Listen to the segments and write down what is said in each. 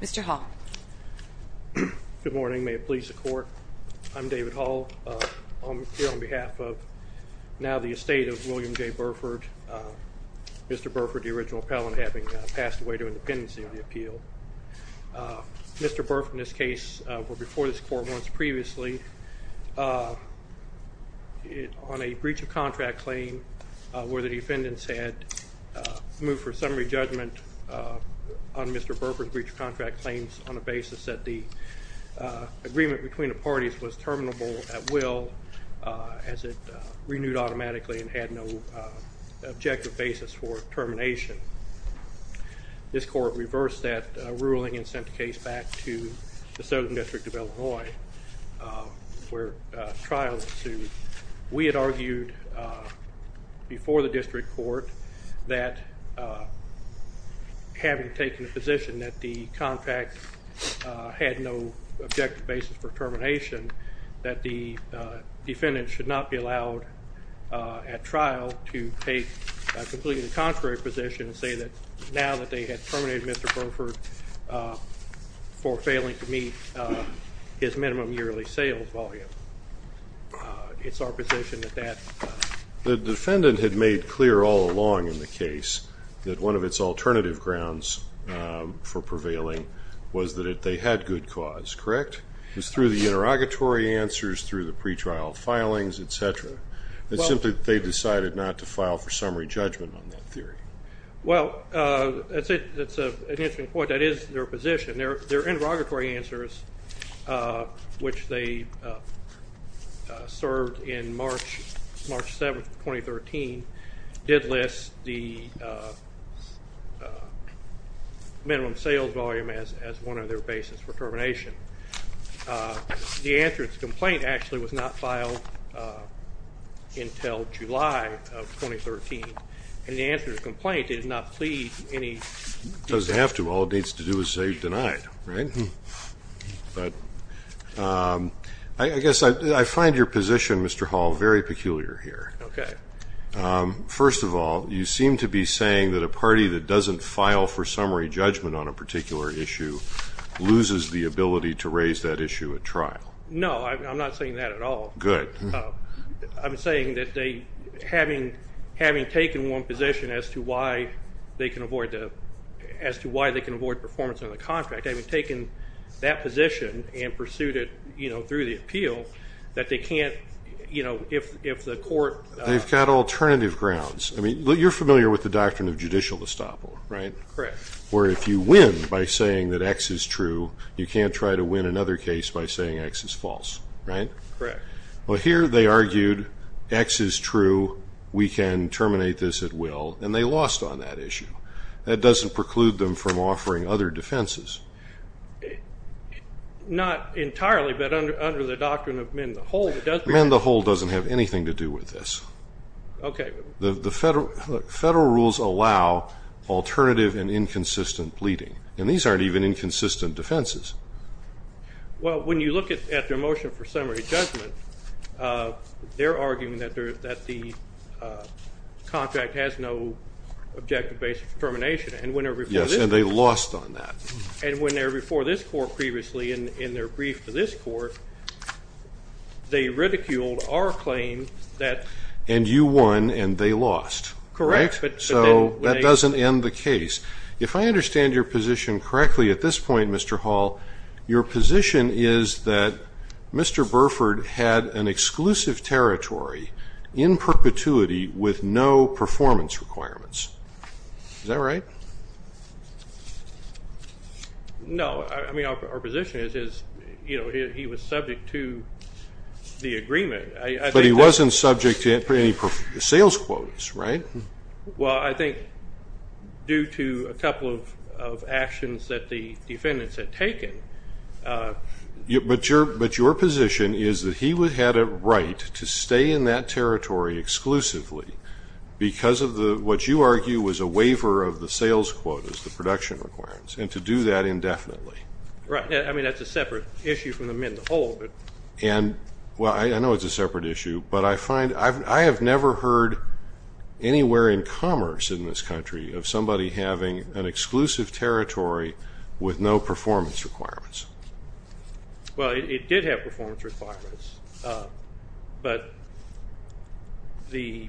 Mr. Hall. Good morning. May it please the Court. I'm David Hall. I'm here on behalf of now the estate of William J. Burford. Mr. Burford, the original appellant, having passed away to independency of the appeal. Mr. Burford and his case were before this Court once previously on a breach of contract claim where the defendants had moved for summary judgment on Mr. Burford's breach of contract claims on the basis that the agreement between the parties was terminable at will as it renewed automatically and had no objective basis for termination. This Court reversed that ruling and sent the case back to the Southern District of Illinois where trial was sued. We had argued before the District Court that having taken a position that the contract had no objective basis for termination that the defendant should not be allowed at trial to take a completely contrary position and say that now that they had terminated Mr. Burford for failing to meet his minimum yearly sales volume. The defendant had made clear all along in the case that one of its alternative grounds for prevailing was that they had good cause, correct? It was through the interrogatory answers, through the pretrial filings, etc. It's simply that they decided not to file for summary judgment on that theory. Well, that's an interesting point. That is their position. Their interrogatory answers, which they served in March 7, 2013, did list the minimum sales volume as one of their basis for termination. The answer to the complaint actually was not filed until July of 2013. And the answer to the complaint did not plead any... It doesn't have to. All it needs to do is say denied, right? I guess I find your position, Mr. Hall, very peculiar here. Okay. First of all, you seem to be saying that a party that doesn't file for summary judgment on a particular issue loses the ability to raise that issue at trial. No, I'm not saying that at all. Good. I'm saying that having taken one position as to why they can avoid performance on the contract, having taken that position and pursued it through the appeal, that they can't... They've got alternative grounds. I mean, you're familiar with the doctrine of judicial estoppel, right? Correct. Where if you win by saying that X is true, you can't try to win another case by saying X is false, right? Correct. Well, here they argued X is true, we can terminate this at will, and they lost on that issue. That doesn't preclude them from offering other defenses. Not entirely, but under the doctrine of men the whole, it does work. Under men the whole doesn't have anything to do with this. Okay. The federal rules allow alternative and inconsistent pleading, and these aren't even inconsistent defenses. Well, when you look at their motion for summary judgment, they're arguing that the contract has no objective-based determination. Yes, and they lost on that. And when they were before this court previously in their brief for this court, they ridiculed our claim that... And you won and they lost. Correct. So that doesn't end the case. If I understand your position correctly at this point, Mr. Hall, your position is that Mr. Burford had an exclusive territory in perpetuity with no performance requirements. Is that right? No. I mean, our position is, you know, he was subject to the agreement. But he wasn't subject to any sales quotes, right? Well, I think due to a couple of actions that the defendants had taken. But your position is that he had a right to stay in that territory exclusively because of what you argue was a waiver of the sales quotas, the production requirements, and to do that indefinitely. Right. I mean, that's a separate issue from the men the whole. And, well, I know it's a separate issue, I have never heard anywhere in commerce in this country of somebody having an exclusive territory with no performance requirements. Well, it did have performance requirements. But, you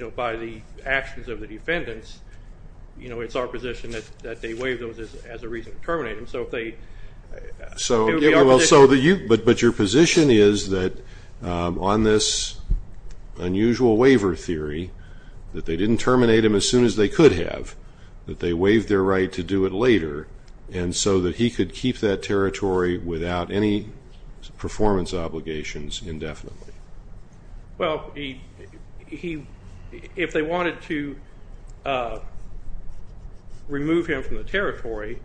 know, by the actions of the defendants, you know, it's our position that they waive those as a reason to terminate him. But your position is that on this unusual waiver theory that they didn't terminate him as soon as they could have, that they waived their right to do it later, and so that he could keep that territory without any performance obligations indefinitely. Well, if they wanted to remove him from the territory,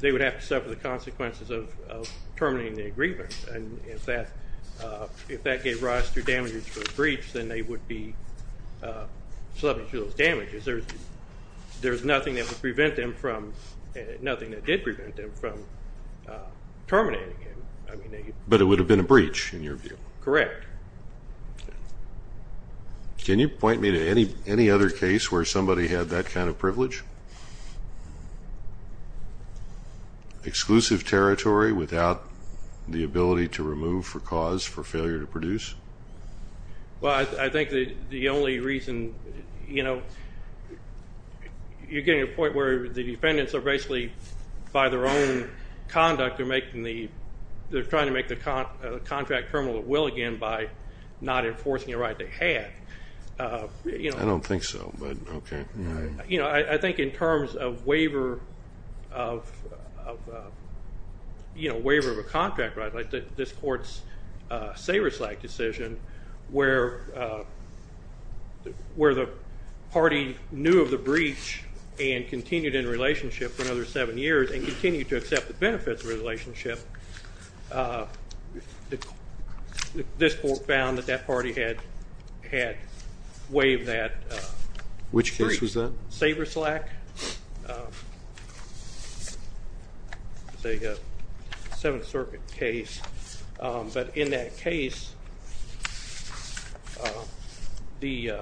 they would have to suffer the consequences of terminating the agreement. And if that gave rise to damages for a breach, then they would be subject to those damages. There's nothing that would prevent them from, nothing that did prevent them from terminating him. But it would have been a breach in your view. Correct. Can you point me to any other case where somebody had that kind of privilege? Exclusive territory without the ability to remove for cause for failure to produce? Well, I think the only reason, you know, you're getting to a point where the defendants are basically, by their own conduct, they're trying to make the contract terminal at will again by not enforcing a right they had. I don't think so, but okay. You know, I think in terms of waiver of a contract right, this court's Saberslack decision where the party knew of the breach and continued in a relationship for another seven years and continued to accept the benefits of the relationship, this court found that that party had waived that. Which case was that? Saberslack. It was a Seventh Circuit case. But in that case, the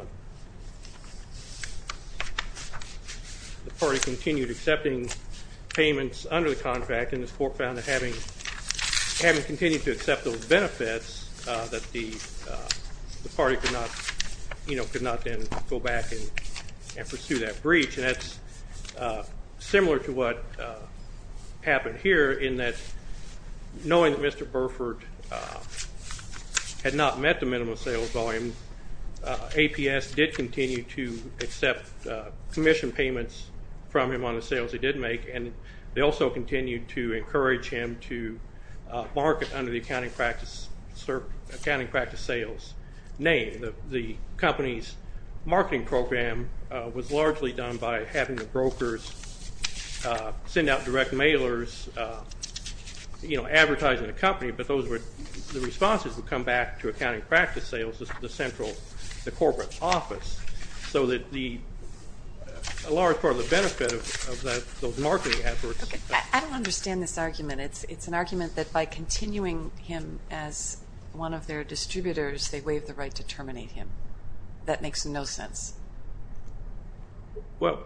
party continued accepting payments under the contract, and this court found that having continued to accept those benefits, that the party could not then go back and pursue that breach. And that's similar to what happened here in that knowing that Mr. Burford had not met the minimum sales volume, APS did continue to accept commission payments from him on the sales he did make, and they also continued to encourage him to market under the accounting practice sales name. The company's marketing program was largely done by having the brokers send out direct mailers, you know, advertising the company, but the responses would come back to accounting practice sales, the central corporate office, so that a large part of the benefit of those marketing efforts. Okay. I don't understand this argument. It's an argument that by continuing him as one of their distributors, they waive the right to terminate him. That makes no sense. Well,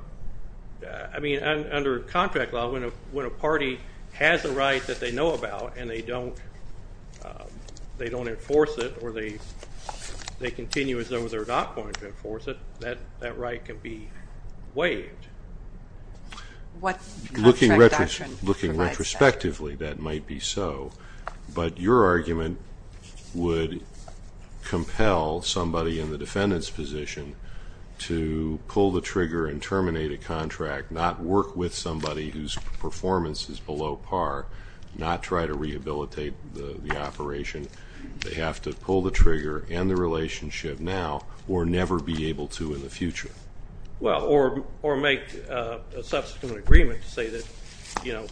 I mean, under contract law, when a party has a right that they know about and they don't enforce it or they continue as though they're not going to enforce it, that right can be waived. Looking retrospectively, that might be so. But your argument would compel somebody in the defendant's position to pull the trigger and terminate a contract, not work with somebody whose performance is below par, not try to rehabilitate the operation. They have to pull the trigger and the relationship now or never be able to in the future. Well, or make a subsequent agreement to say that, you know,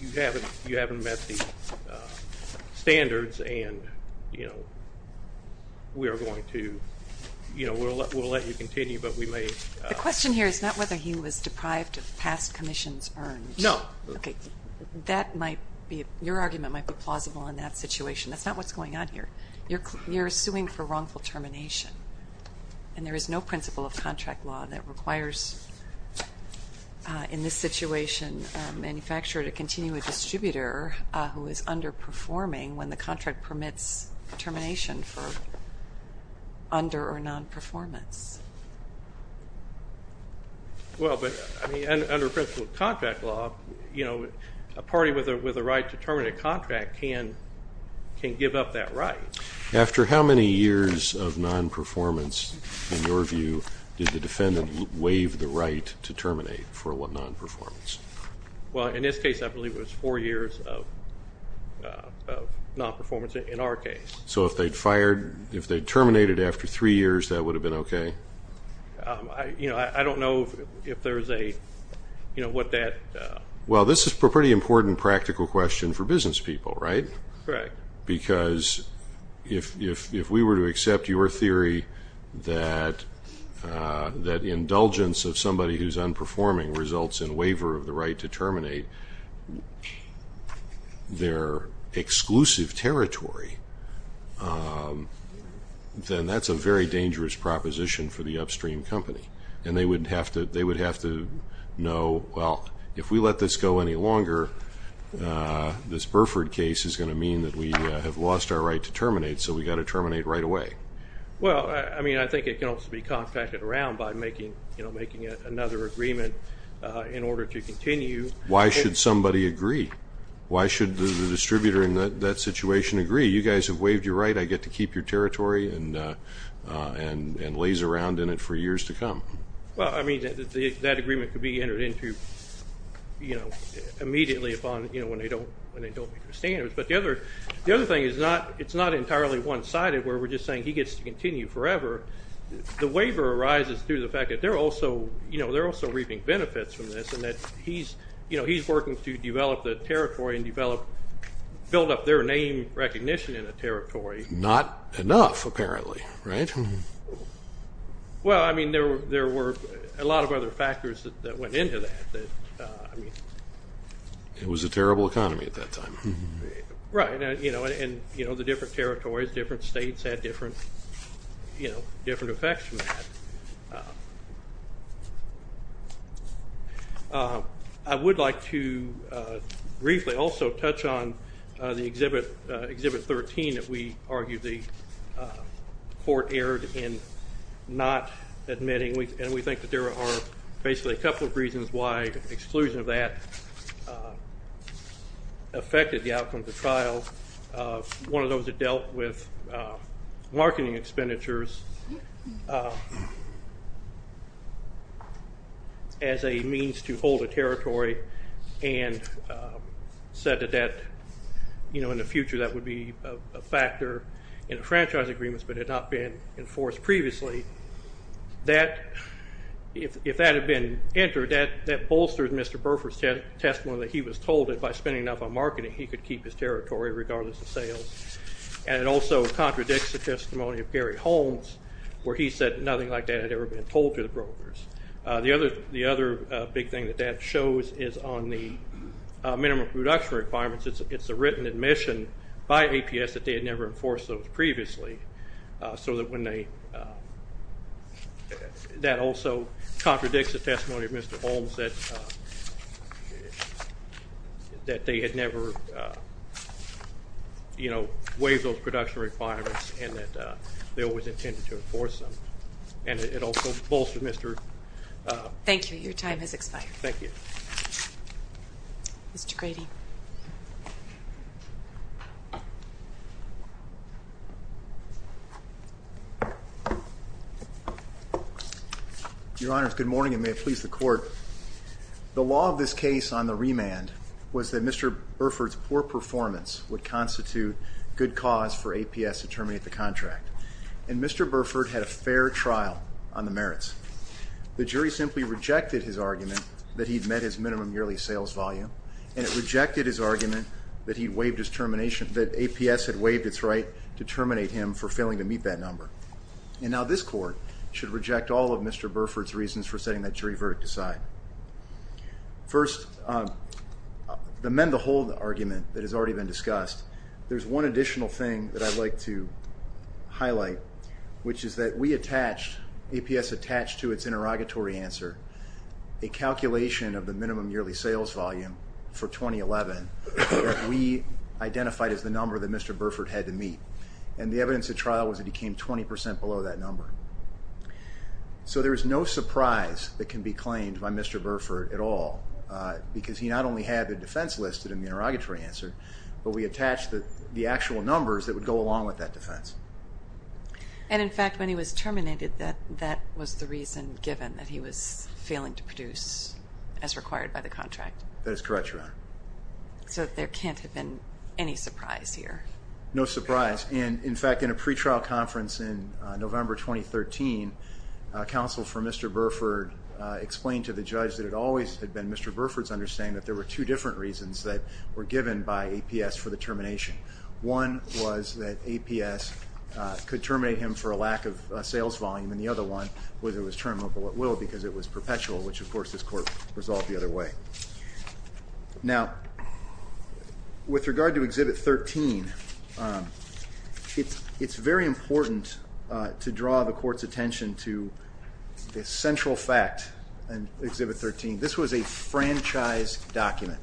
you haven't met the standards and, you know, we are going to, you know, we'll let you continue, but we may. The question here is not whether he was deprived of past commissions earned. No. Okay. That might be, your argument might be plausible in that situation. That's not what's going on here. You're suing for wrongful termination, and there is no principle of contract law that requires, in this situation, a manufacturer to continue a distributor who is underperforming when the contract permits termination for under or non-performance. Well, but under principle of contract law, you know, a party with a right to terminate a contract can give up that right. After how many years of non-performance, in your view, did the defendant waive the right to terminate for non-performance? Well, in this case, I believe it was four years of non-performance in our case. So if they'd fired, if they'd terminated after three years, that would have been okay? You know, I don't know if there's a, you know, what that. Well, this is a pretty important practical question for business people, right? Correct. Because if we were to accept your theory that indulgence of somebody who's underperforming results in waiver of the right to terminate their exclusive territory, then that's a very dangerous proposition for the upstream company, and they would have to know, well, if we let this go any longer, this Burford case is going to mean that we have lost our right to terminate, so we've got to terminate right away. Well, I mean, I think it can also be compacted around by making, you know, another agreement in order to continue. Why should somebody agree? Why should the distributor in that situation agree? You guys have waived your right. I get to keep your territory and laze around in it for years to come. Well, I mean, that agreement could be entered into, you know, immediately upon, you know, when they don't meet the standards. But the other thing is it's not entirely one-sided where we're just saying he gets to continue forever. The waiver arises through the fact that they're also reaping benefits from this and that he's working to develop the territory and build up their name recognition in the territory. Not enough, apparently, right? Well, I mean, there were a lot of other factors that went into that. It was a terrible economy at that time. Right. And, you know, the different territories, different states had different effects from that. I would like to briefly also touch on the Exhibit 13 that we argued the court erred in not admitting. And we think that there are basically a couple of reasons why exclusion of that affected the outcome of the trial. One of those had dealt with marketing expenditures as a means to hold a territory and said that that, you know, in the future that would be a factor in franchise agreements but had not been enforced previously. If that had been entered, that bolstered Mr. Burford's testimony that he was told that by spending enough on marketing, he could keep his territory regardless of sales. And it also contradicts the testimony of Gary Holmes where he said nothing like that had ever been told to the brokers. The other big thing that that shows is on the minimum production requirements. It's a written admission by APS that they had never enforced those previously. So that also contradicts the testimony of Mr. Holmes that they had never, you know, waived those production requirements and that they always intended to enforce them. And it also bolstered Mr. Thank you. Your time has expired. Thank you. Mr. Grady. Your Honors, good morning and may it please the Court. The law of this case on the remand was that Mr. Burford's poor performance would constitute good cause for APS to terminate the contract. And Mr. Burford had a fair trial on the merits. The jury simply rejected his argument that he'd met his minimum yearly sales volume and it rejected his argument that he'd waived his termination, that APS had waived its right to terminate him for failing to meet that number. And now this Court should reject all of Mr. Burford's reasons for setting that jury verdict aside. First, the mend the hold argument that has already been discussed, there's one additional thing that I'd like to highlight, which is that we attached, APS attached to its interrogatory answer, a calculation of the minimum yearly sales volume for 2011 that we identified as the number that Mr. Burford had to meet. And the evidence at trial was that he came 20 percent below that number. So there is no surprise that can be claimed by Mr. Burford at all, because he not only had the defense listed in the interrogatory answer, but we attached the actual numbers that would go along with that defense. And in fact, when he was terminated, that was the reason given, that he was failing to produce as required by the contract? That is correct, Your Honor. So there can't have been any surprise here? No surprise. In fact, in a pretrial conference in November 2013, counsel for Mr. Burford explained to the judge that it always had been Mr. Burford's understanding that there were two different reasons that were given by APS for the termination. One was that APS could terminate him for a lack of sales volume, and the other one was it was terminable at will because it was perpetual, which of course this Court resolved the other way. Now, with regard to Exhibit 13, it's very important to draw the Court's attention to this central fact in Exhibit 13. This was a franchise document.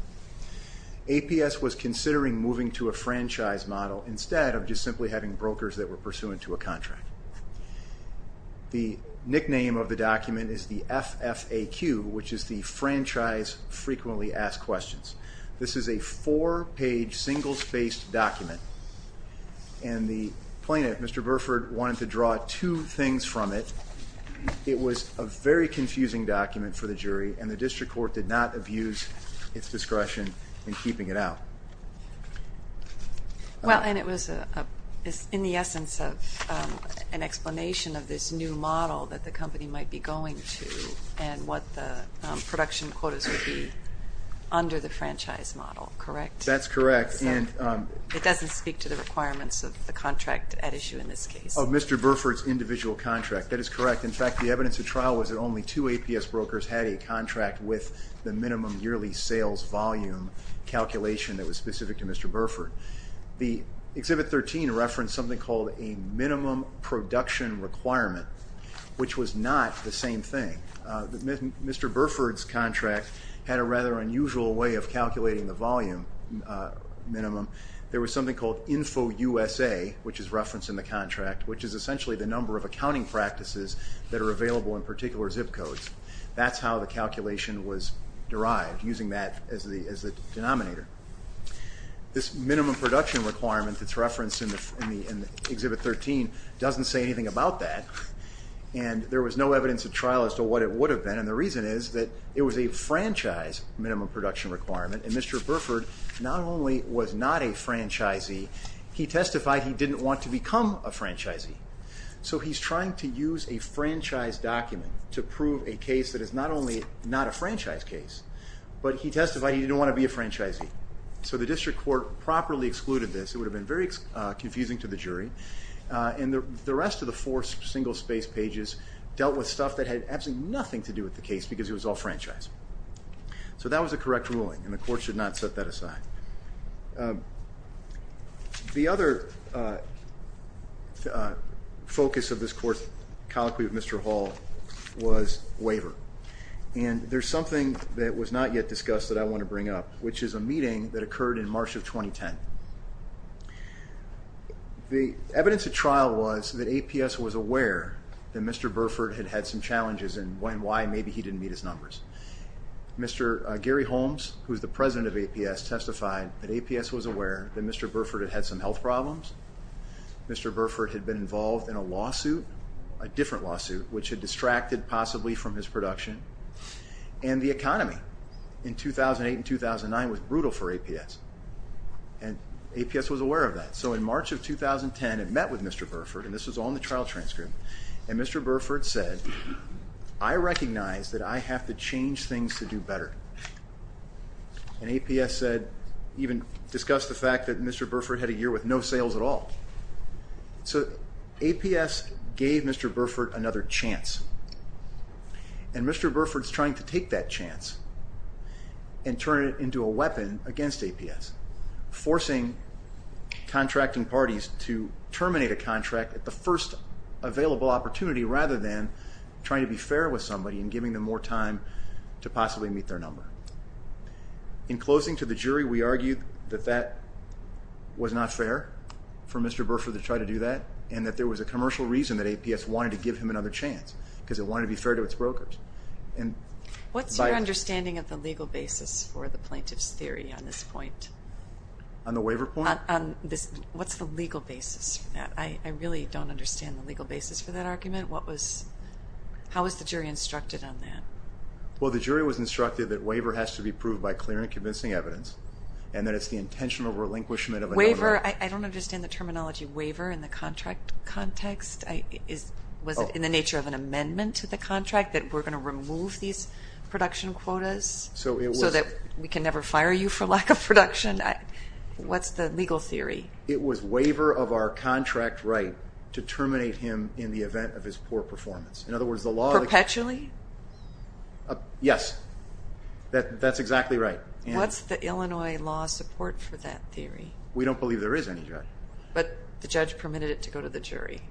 APS was considering moving to a franchise model instead of just simply having brokers that were pursuant to a contract. The nickname of the document is the FFAQ, which is the Franchise Frequently Asked Questions. This is a four-page, single-spaced document, and the plaintiff, Mr. Burford, wanted to draw two things from it. It was a very confusing document for the jury, and the district court did not abuse its discretion in keeping it out. Well, and it was in the essence of an explanation of this new model that the company might be going to and what the production quotas would be under the franchise model, correct? That's correct. It doesn't speak to the requirements of the contract at issue in this case. Of Mr. Burford's individual contract, that is correct. In fact, the evidence of trial was that only two APS brokers had a contract with the minimum yearly sales volume calculation that was specific to Mr. Burford. Exhibit 13 referenced something called a minimum production requirement, which was not the same thing. Mr. Burford's contract had a rather unusual way of calculating the volume minimum. There was something called InfoUSA, which is referenced in the contract, which is essentially the number of accounting practices that are available in particular zip codes. That's how the calculation was derived, using that as the denominator. This minimum production requirement that's referenced in Exhibit 13 doesn't say anything about that, and there was no evidence of trial as to what it would have been, and the reason is that it was a franchise minimum production requirement, and Mr. Burford not only was not a franchisee, he testified he didn't want to become a franchisee. So he's trying to use a franchise document to prove a case that is not only not a franchise case, but he testified he didn't want to be a franchisee. So the district court properly excluded this. It would have been very confusing to the jury, and the rest of the four single-space pages dealt with stuff that had absolutely nothing to do with the case because it was all franchise. So that was a correct ruling, and the court should not set that aside. The other focus of this court colloquy with Mr. Hall was waiver, and there's something that was not yet discussed that I want to bring up, which is a meeting that occurred in March of 2010. The evidence at trial was that APS was aware that Mr. Burford had had some challenges and why maybe he didn't meet his numbers. Mr. Gary Holmes, who is the president of APS, testified that APS was aware that Mr. Burford had had some health problems. Mr. Burford had been involved in a lawsuit, a different lawsuit, which had distracted possibly from his production, and the economy in 2008 and 2009 was brutal for APS, and APS was aware of that. So in March of 2010, it met with Mr. Burford, and this was on the trial transcript, and Mr. Burford said, I recognize that I have to change things to do better. And APS said, even discussed the fact that Mr. Burford had a year with no sales at all. So APS gave Mr. Burford another chance, and Mr. Burford's trying to take that chance and turn it into a weapon against APS, forcing contracting parties to terminate a contract at the first available opportunity, rather than trying to be fair with somebody and giving them more time to possibly meet their number. In closing to the jury, we argued that that was not fair for Mr. Burford to try to do that, and that there was a commercial reason that APS wanted to give him another chance, because it wanted to be fair to its brokers. What's your understanding of the legal basis for the plaintiff's theory on this point? On the waiver point? On this, what's the legal basis for that? I really don't understand the legal basis for that argument. What was, how was the jury instructed on that? Well, the jury was instructed that waiver has to be proved by clear and convincing evidence, and that it's the intentional relinquishment of another... Waiver, I don't understand the terminology waiver in the contract context. Was it in the nature of an amendment to the contract that we're going to remove these production quotas? So it was... So that we can never fire you for lack of production? What's the legal theory? It was waiver of our contract right to terminate him in the event of his poor performance. In other words, the law... Perpetually? Yes, that's exactly right. What's the Illinois law support for that theory? We don't believe there is any, Judge. But the judge permitted it to go to the jury.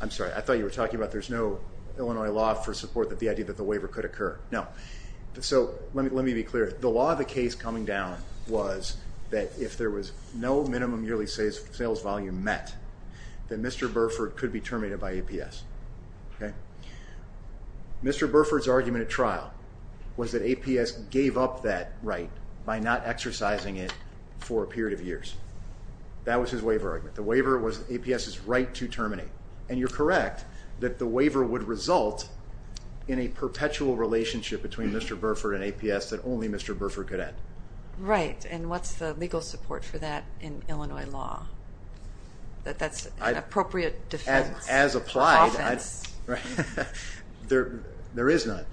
I'm sorry, I thought you were talking about there's no Illinois law for support of the idea that the waiver could occur. No. So let me be clear. The law of the case coming down was that if there was no minimum yearly sales volume met, that Mr. Burford could be terminated by APS. Mr. Burford's argument at trial was that APS gave up that right by not exercising it for a period of years. That was his waiver argument. The waiver was APS's right to terminate. And you're correct that the waiver would result in a perpetual relationship between Mr. Burford and APS that only Mr. Burford could end. Right. And what's the legal support for that in Illinois law? That that's an appropriate defense. As applied. Offense. There is none.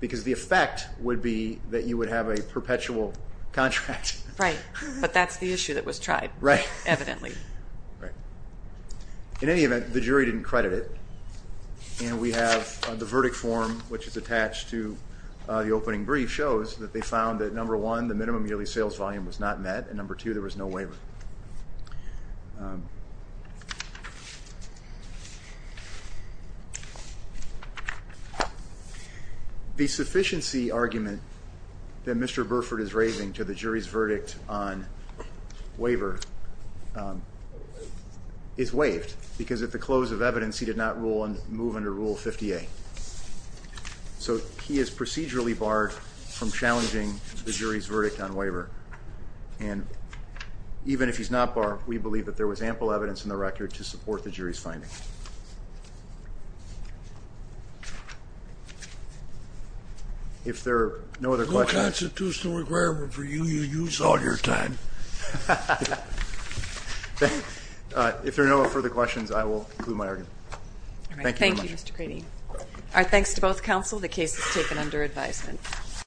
Because the effect would be that you would have a perpetual contract. Right. But that's the issue that was tried. Right. Evidently. Right. In any event, the jury didn't credit it, and we have the verdict form, which is attached to the opening brief, shows that they found that number one, the minimum yearly sales volume was not met, and number two, there was no waiver. The sufficiency argument that Mr. Burford is raising to the jury's verdict on waiver is waived, because at the close of evidence he did not move under Rule 50A. So he is procedurally barred from challenging the jury's verdict on waiver. And even if he's not barred, we believe that there was ample evidence in the record to support the jury's finding. If there are no other questions. No constitutional requirement for you. You use all your time. If there are no further questions, I will conclude my argument. Thank you very much. Thank you, Mr. Grady. Our thanks to both counsel. The case is taken under advisement.